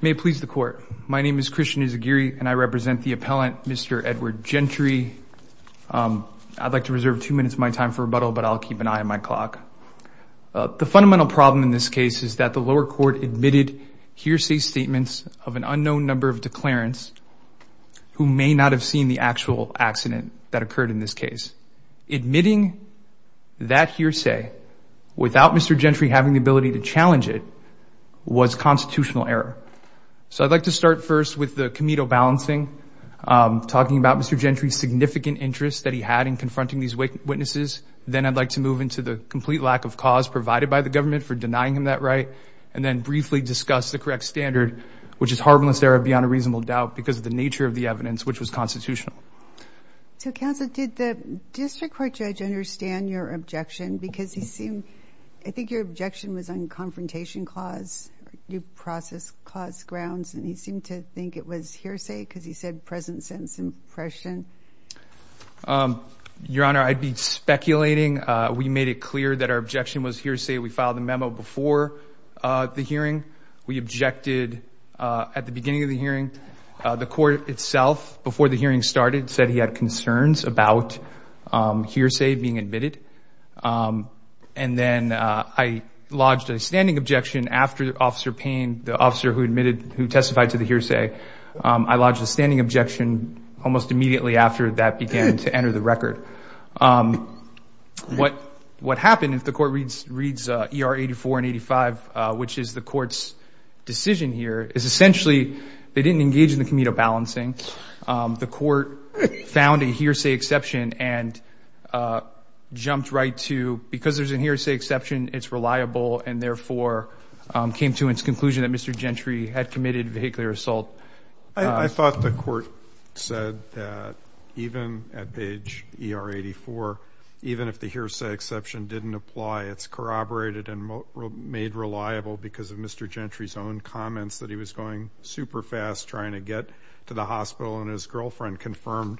May it please the court, my name is Christian Izaguirre and I represent the appellant Mr. Edward Gentry. I'd like to reserve two minutes of my time for rebuttal but I'll keep an eye on my clock. The fundamental problem in this case is that the lower court admitted hearsay statements of an unknown number of declarants who may not have seen the actual accident that occurred in this case. Admitting that hearsay without Mr. Gentry having the ability to challenge it was constitutional error. So I'd like to start first with the Comedo Balancing talking about Mr. Gentry's significant interest that he had in confronting these witnesses. Then I'd like to move into the complete lack of cause provided by the government for denying him that right and then briefly discuss the correct standard which is harmless error beyond a reasonable doubt because of the nature of the evidence which was constitutional. So counsel did the district court judge understand your objection because he seemed I think your confrontation clause, due process clause grounds and he seemed to think it was hearsay because he said present sense impression. Your Honor I'd be speculating we made it clear that our objection was hearsay. We filed a memo before the hearing. We objected at the beginning of the hearing. The court itself before the hearing started said he had concerns about hearsay being admitted and then I lodged a standing objection after Officer Payne, the officer who admitted who testified to the hearsay. I lodged a standing objection almost immediately after that began to enter the record. What happened if the court reads ER 84 and 85 which is the court's decision here is essentially they didn't engage in the Comedo Balancing. The court found a hearsay exception and jumped right to because there's a hearsay exception it's reliable and therefore came to its conclusion that Mr. Gentry had committed vehicular assault. I thought the court said that even at page ER 84 even if the hearsay exception didn't apply it's corroborated and made reliable because of Mr. Gentry's own comments that he was going super fast trying to get to the hospital and his When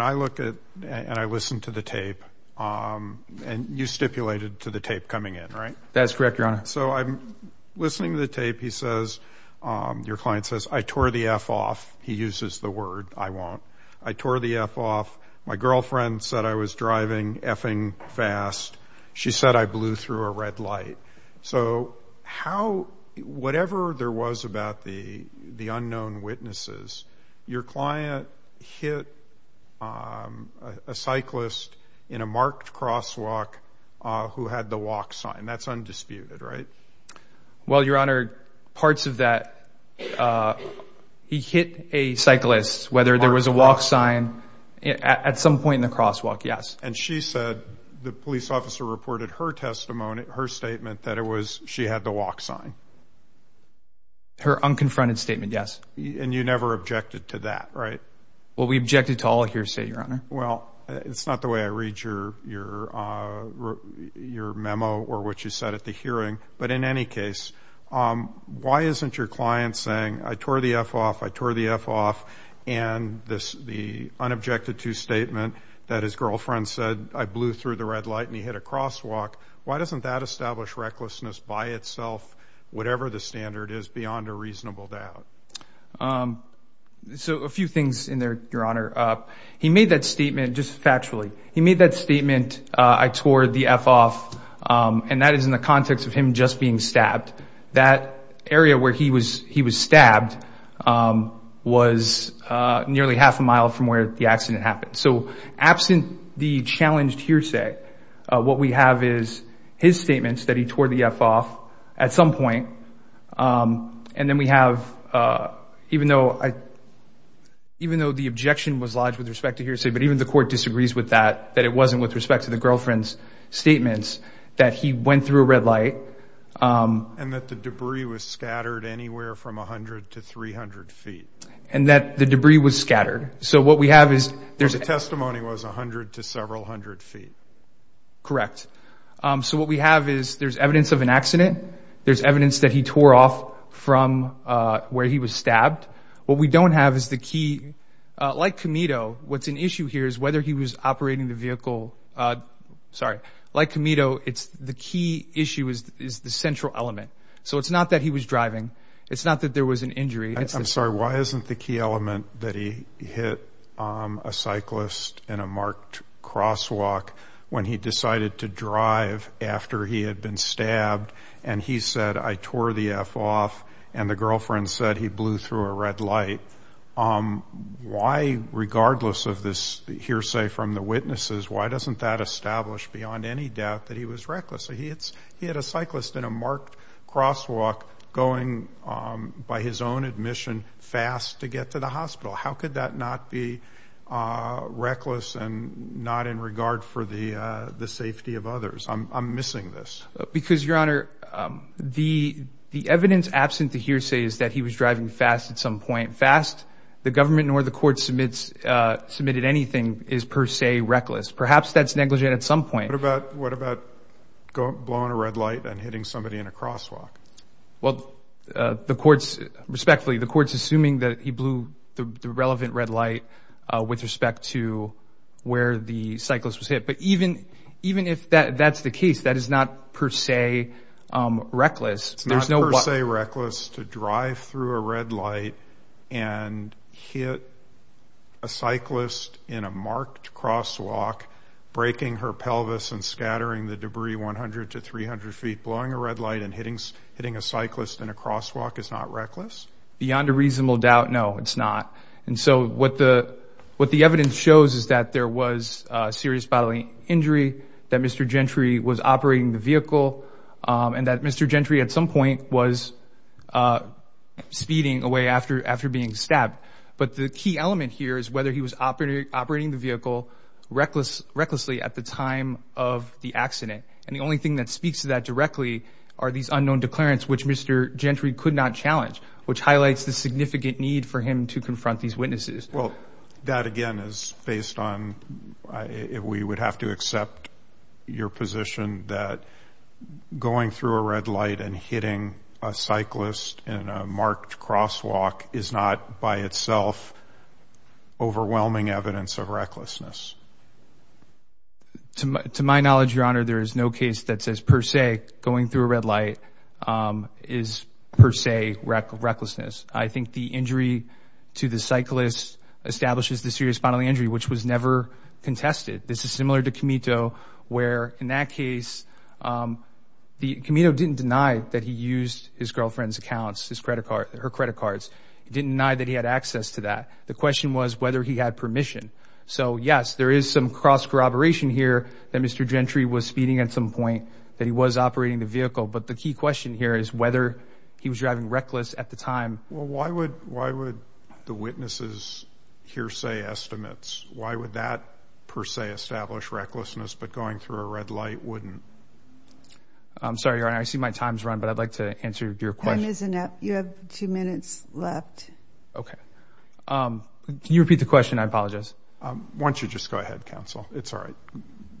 I look at and I listened to the tape and you stipulated to the tape coming in right? That's correct your honor. So I'm listening to the tape he says your client says I tore the F off he uses the word I won't I tore the F off my girlfriend said I was driving effing fast she said I blew through a red light so how whatever there was about the the unknown witnesses your client hit a cyclist in a marked crosswalk who had the walk sign that's undisputed right? Well your honor parts of that he hit a cyclist whether there was a walk sign at some point in the crosswalk yes. And she said the police officer reported her testimony her statement that it was she had the walk sign. Her unconfronted statement yes. And you never objected to that right? Well we objected to all hearsay your honor. Well it's not the way I read your your your memo or what you said at the hearing but in any case why isn't your client saying I tore the F off I tore the F off and this the unobjected to statement that his girlfriend said I blew through the red light and he hit a whatever the standard is beyond a reasonable doubt. So a few things in there your honor he made that statement just factually he made that statement I tore the F off and that is in the context of him just being stabbed that area where he was he was stabbed was nearly half a mile from where the accident happened so absent the challenged hearsay what we have is his point and then we have even though I even though the objection was lodged with respect to hearsay but even the court disagrees with that that it wasn't with respect to the girlfriend's statements that he went through a red light and that the debris was scattered anywhere from 100 to 300 feet and that the debris was scattered so what we have is there's a testimony was a hundred to several hundred feet correct so what we have is there's evidence of an accident there's evidence that he tore off from where he was stabbed what we don't have is the key like Camito what's an issue here is whether he was operating the vehicle sorry like Camito it's the key issue is the central element so it's not that he was driving it's not that there was an injury I'm sorry why isn't the key element that he hit a cyclist in a marked crosswalk when he decided to and he said I tore the F off and the girlfriend said he blew through a red light why regardless of this hearsay from the witnesses why doesn't that establish beyond any doubt that he was reckless he hits he had a cyclist in a marked crosswalk going by his own admission fast to get to the hospital how could that not be reckless and not in regard for the the safety of others I'm missing this because your honor the the evidence absent the hearsay is that he was driving fast at some point fast the government nor the court submits submitted anything is per se reckless perhaps that's negligent at some point about what about go blow on a red light and hitting somebody in a crosswalk well the courts respectfully the courts assuming that he blew the relevant red with respect to where the cyclist was hit but even even if that that's the case that is not per se reckless there's no say reckless to drive through a red light and hit a cyclist in a marked crosswalk breaking her pelvis and scattering the debris 100 to 300 feet blowing a red light and hitting hitting a cyclist in a crosswalk is not reckless beyond a reasonable doubt no it's not and so what the what the evidence shows is that there was serious bodily injury that mr. Gentry was operating the vehicle and that mr. Gentry at some point was speeding away after after being stabbed but the key element here is whether he was operating operating the vehicle reckless recklessly at the time of the accident and the only thing that speaks to that directly are these unknown declarants which mr. Gentry could not challenge which highlights the these witnesses well that again is based on if we would have to accept your position that going through a red light and hitting a cyclist in a marked crosswalk is not by itself overwhelming evidence of recklessness to my knowledge your honor there is no case that says per se going through a red light is per the cyclist establishes the serious bodily injury which was never contested this is similar to Camito where in that case the Camino didn't deny that he used his girlfriend's accounts his credit card her credit cards he didn't deny that he had access to that the question was whether he had permission so yes there is some cross-corroboration here that mr. Gentry was speeding at some point that he was operating the vehicle but the key question here is whether he was driving reckless at the time well why would why would the witnesses hearsay estimates why would that per se establish recklessness but going through a red light wouldn't I'm sorry I see my time's run but I'd like to answer your question isn't it you have two minutes left okay can you repeat the question I apologize once you just go ahead counsel it's all right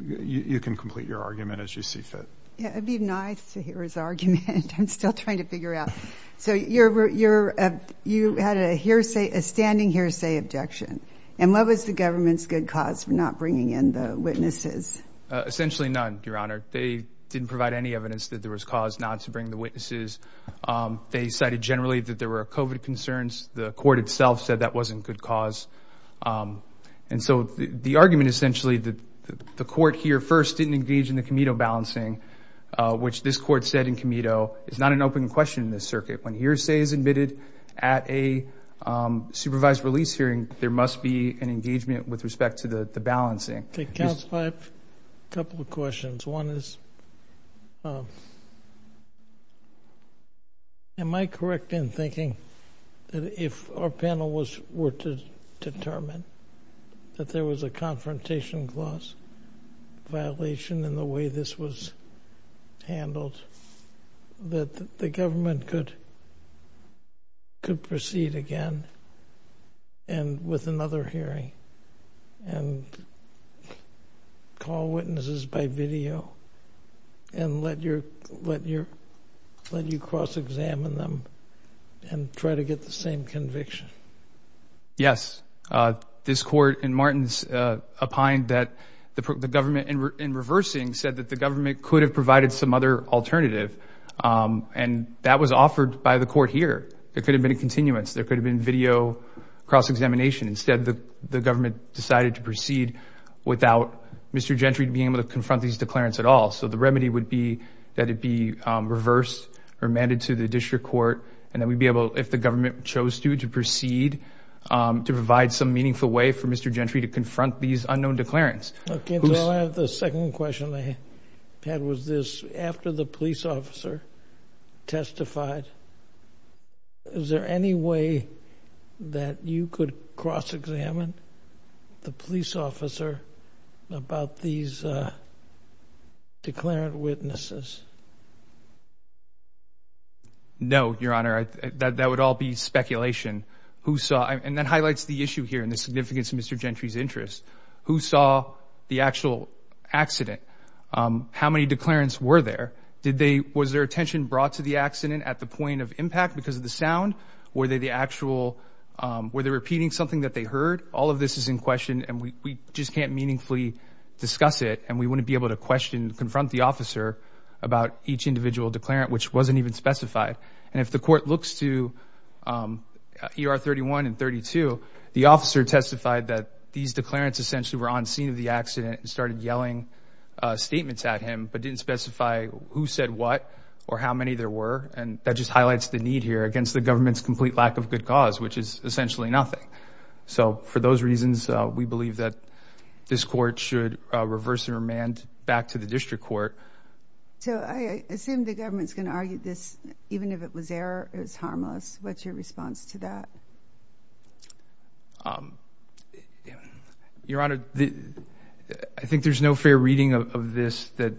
you can complete your argument as you see fit yeah it'd be nice to hear his argument I'm still trying to figure out so you're you're you had a hearsay a standing hearsay objection and what was the government's good cause for not bringing in the witnesses essentially none your honor they didn't provide any evidence that there was cause not to bring the witnesses they cited generally that there were COVID concerns the court itself said that wasn't good cause and so the argument essentially that the court here first didn't engage in the is not an open question in this circuit when hearsay is admitted at a supervised release hearing there must be an engagement with respect to the the balancing a couple of questions one is am I correct in thinking that if our panel was were to determine that there was a confrontation clause violation in the way this was handled that the government could could proceed again and with another hearing and call witnesses by video and let your let your let you cross-examine them and try to get the same conviction yes this court and said that the government could have provided some other alternative and that was offered by the court here there could have been a continuance there could have been video cross-examination instead the the government decided to proceed without mr. Gentry to be able to confront these declarants at all so the remedy would be that it be reversed or amended to the district court and then we'd be able if the government chose to to proceed to provide some meaningful way for mr. Gentry to confront these unknown declarants the second question I had was this after the police officer testified is there any way that you could cross-examine the police officer about these declarant witnesses no your honor that would all be speculation who saw and then highlights the issue here in the significance of mr. Gentry's interest who saw the actual accident how many declarants were there did they was their attention brought to the accident at the point of impact because of the sound were they the actual were they repeating something that they heard all of this is in question and we just can't meaningfully discuss it and we wouldn't be able to question confront the officer about each individual declarant which wasn't even specified and if the court looks to er 31 and 32 the officer testified that these declarants essentially were on scene of the accident and started yelling statements at him but didn't specify who said what or how many there were and that just highlights the need here against the government's complete lack of good cause which is essentially nothing so for those reasons we believe that this court should reverse and remand back to the district court so I assume the what's your response to that your honor I think there's no fair reading of this that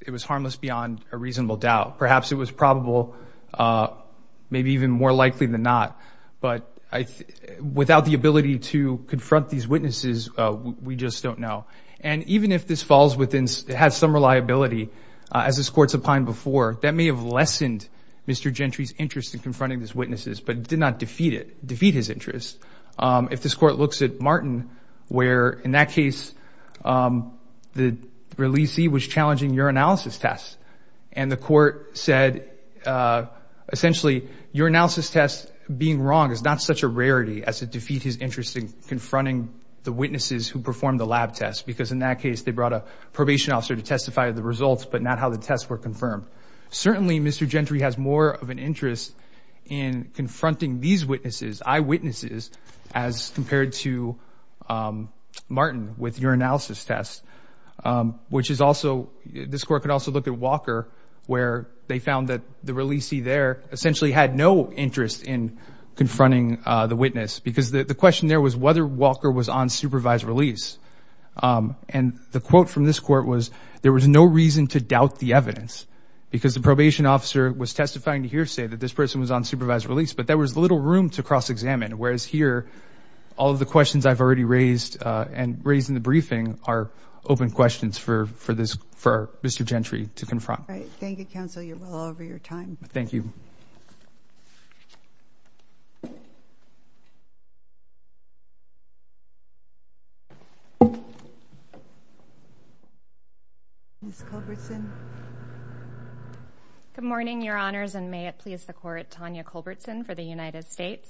it was harmless beyond a reasonable doubt perhaps it was probable maybe even more likely than not but I without the ability to confront these witnesses we just don't know and even if this falls within it has some reliability as this Mr. Gentry's interest in confronting his witnesses but did not defeat it defeat his interest if this court looks at Martin where in that case the releasee was challenging your analysis test and the court said essentially your analysis test being wrong is not such a rarity as to defeat his interesting confronting the witnesses who performed the lab test because in that case they brought a probation officer to testify the results but not how the tests were confirmed certainly Mr. Gentry has more of an interest in confronting these witnesses eyewitnesses as compared to Martin with your analysis test which is also this court could also look at Walker where they found that the releasee there essentially had no interest in confronting the witness because the question there was whether Walker was on supervised release and the quote from this court was there was no reason to doubt the evidence because the probation officer was testifying to hearsay that this person was on supervised release but there was little room to cross-examine whereas here all of the questions I've already raised and raised in the briefing are open questions for for this for Mr. Gentry to confront thank you good morning your honors and may it please the court Tanya Culbertson for the United States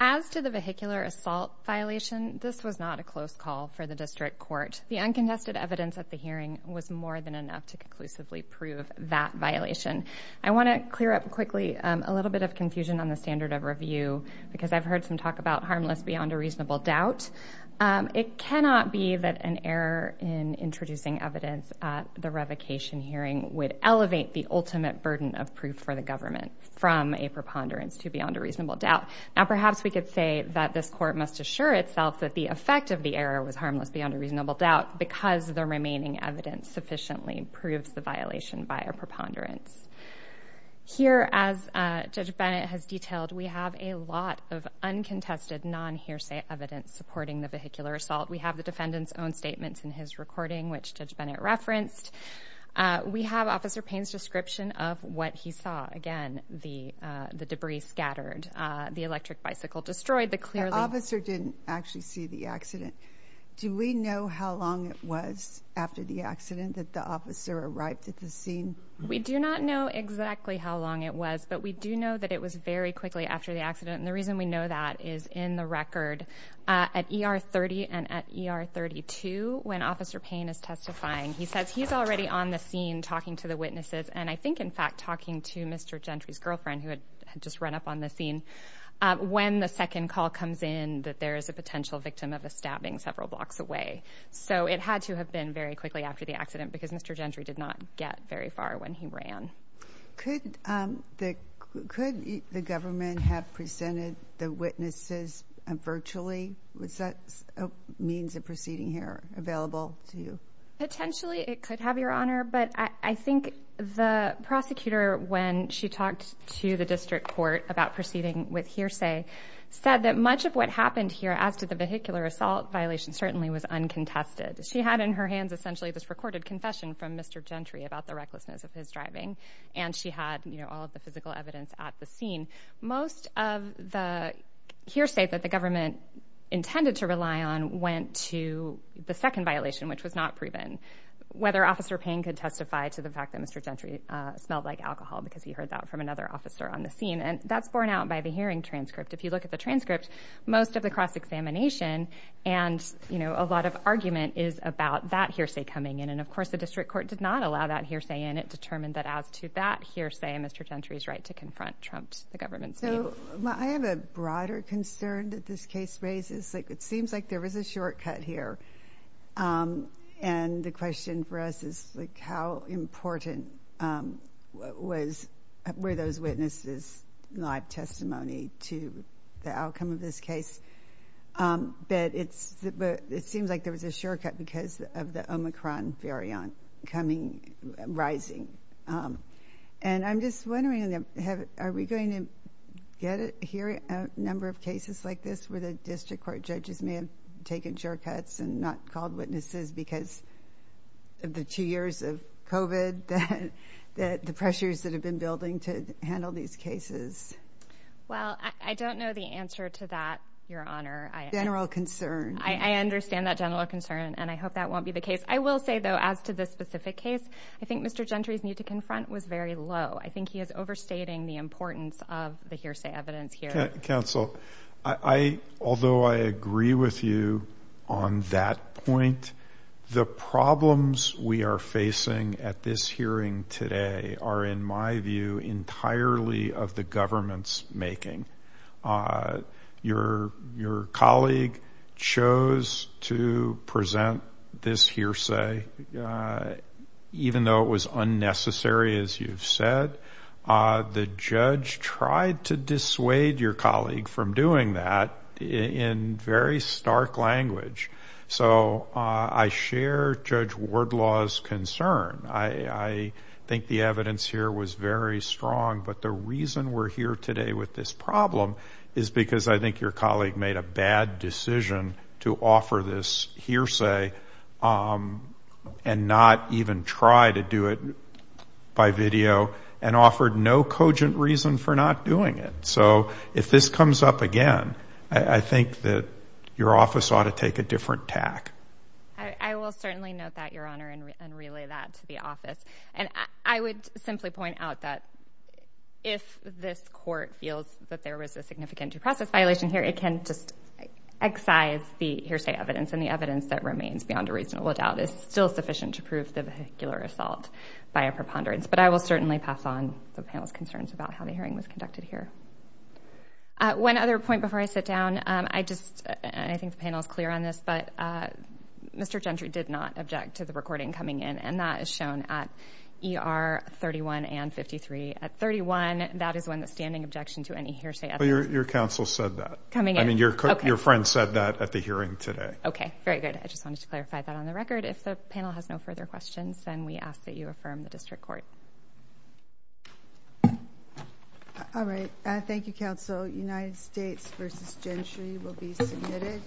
as to the vehicular assault violation this was not a close call for the district court the uncontested evidence at the hearing was more than enough to conclusively prove that violation I want to clear up quickly a little bit of confusion on the standard of review because I've heard some talk about harmless beyond a reasonable doubt it cannot be that an error in introducing evidence at the revocation hearing would elevate the ultimate burden of proof for the government from a preponderance to beyond a reasonable doubt now perhaps we could say that this court must assure itself that the effect of the error was harmless beyond a reasonable doubt because the remaining evidence sufficiently proves the violation by a preponderance here as Judge Bennett has detailed we have a lot of uncontested non hearsay evidence supporting the vehicular assault we have the statements in his recording which Judge Bennett referenced we have Officer Payne's description of what he saw again the the debris scattered the electric bicycle destroyed the clear officer didn't actually see the accident do we know how long it was after the accident that the officer arrived at the scene we do not know exactly how long it was but we do know that it was very quickly after the accident and the reason we know that is in the record at ER 30 and at ER 32 when Officer Payne is testifying he says he's already on the scene talking to the witnesses and I think in fact talking to Mr. Gentry's girlfriend who had just run up on the scene when the second call comes in that there is a potential victim of a stabbing several blocks away so it had to have been very quickly after the accident because Mr. Gentry did not get very far when he ran could the could the government have presented the witnesses virtually was that means of proceeding here available to you potentially it could have your honor but I think the prosecutor when she talked to the district court about proceeding with hearsay said that much of what happened here as to the vehicular assault violation certainly was uncontested she had in her hands essentially this recorded confession from Mr. Gentry about the recklessness of his driving and she had you know all of the physical that the government intended to rely on went to the second violation which was not proven whether officer Payne could testify to the fact that Mr. Gentry smelled like alcohol because he heard that from another officer on the scene and that's borne out by the hearing transcript if you look at the transcript most of the cross-examination and you know a lot of argument is about that hearsay coming in and of course the district court did not allow that hearsay in it determined that as to that hearsay and Mr. Gentry's right to that this case raises like it seems like there was a shortcut here and the question for us is like how important was where those witnesses live testimony to the outcome of this case but it's but it seems like there was a shortcut because of the Omicron variant coming rising and I'm just wondering them have are we going to get it here a number of cases like this where the district court judges may have taken shortcuts and not called witnesses because of the two years of COVID that that the pressures that have been building to handle these cases well I don't know the answer to that your honor I general concern I understand that general concern and I hope that won't be the case I will say though as to this specific case I think mr. Gentry's need to confront was very low I think he is overstating the importance of the hearsay evidence here counsel I although I agree with you on that point the problems we are facing at this hearing today are in my view entirely of the government's making your your colleague chose to present this hearsay even though it was unnecessary as you've said the judge tried to dissuade your colleague from doing that in very stark language so I share judge Ward law's concern I think the evidence here was very strong but the reason we're here today with this problem is because I think your colleague made a bad decision to offer this hearsay and not even try to do it by video and offered no cogent reason for not doing it so if this comes up again I think that your office ought to take a different tack I will certainly note that your honor and relay that to the office and I would simply point out that if this court feels that there was a significant due process violation here it can just excise the hearsay evidence and the evidence that remains beyond a reasonable doubt is still sufficient to prove the vehicular assault by a preponderance but I will certainly pass on the panel's concerns about how the hearing was conducted here one other point before I sit down I just I think the panel is clear on this but mr. Gentry did not object to the recording coming in and that is shown at er 31 and 53 at 31 that is when the standing objection to any hearsay your counsel said that coming in your cook your friend said that at the hearing today okay very good I just wanted to clarify that on the record if the panel has no further questions then we ask that you affirm the district court all right I thank you counsel United States versus gentry will be submitted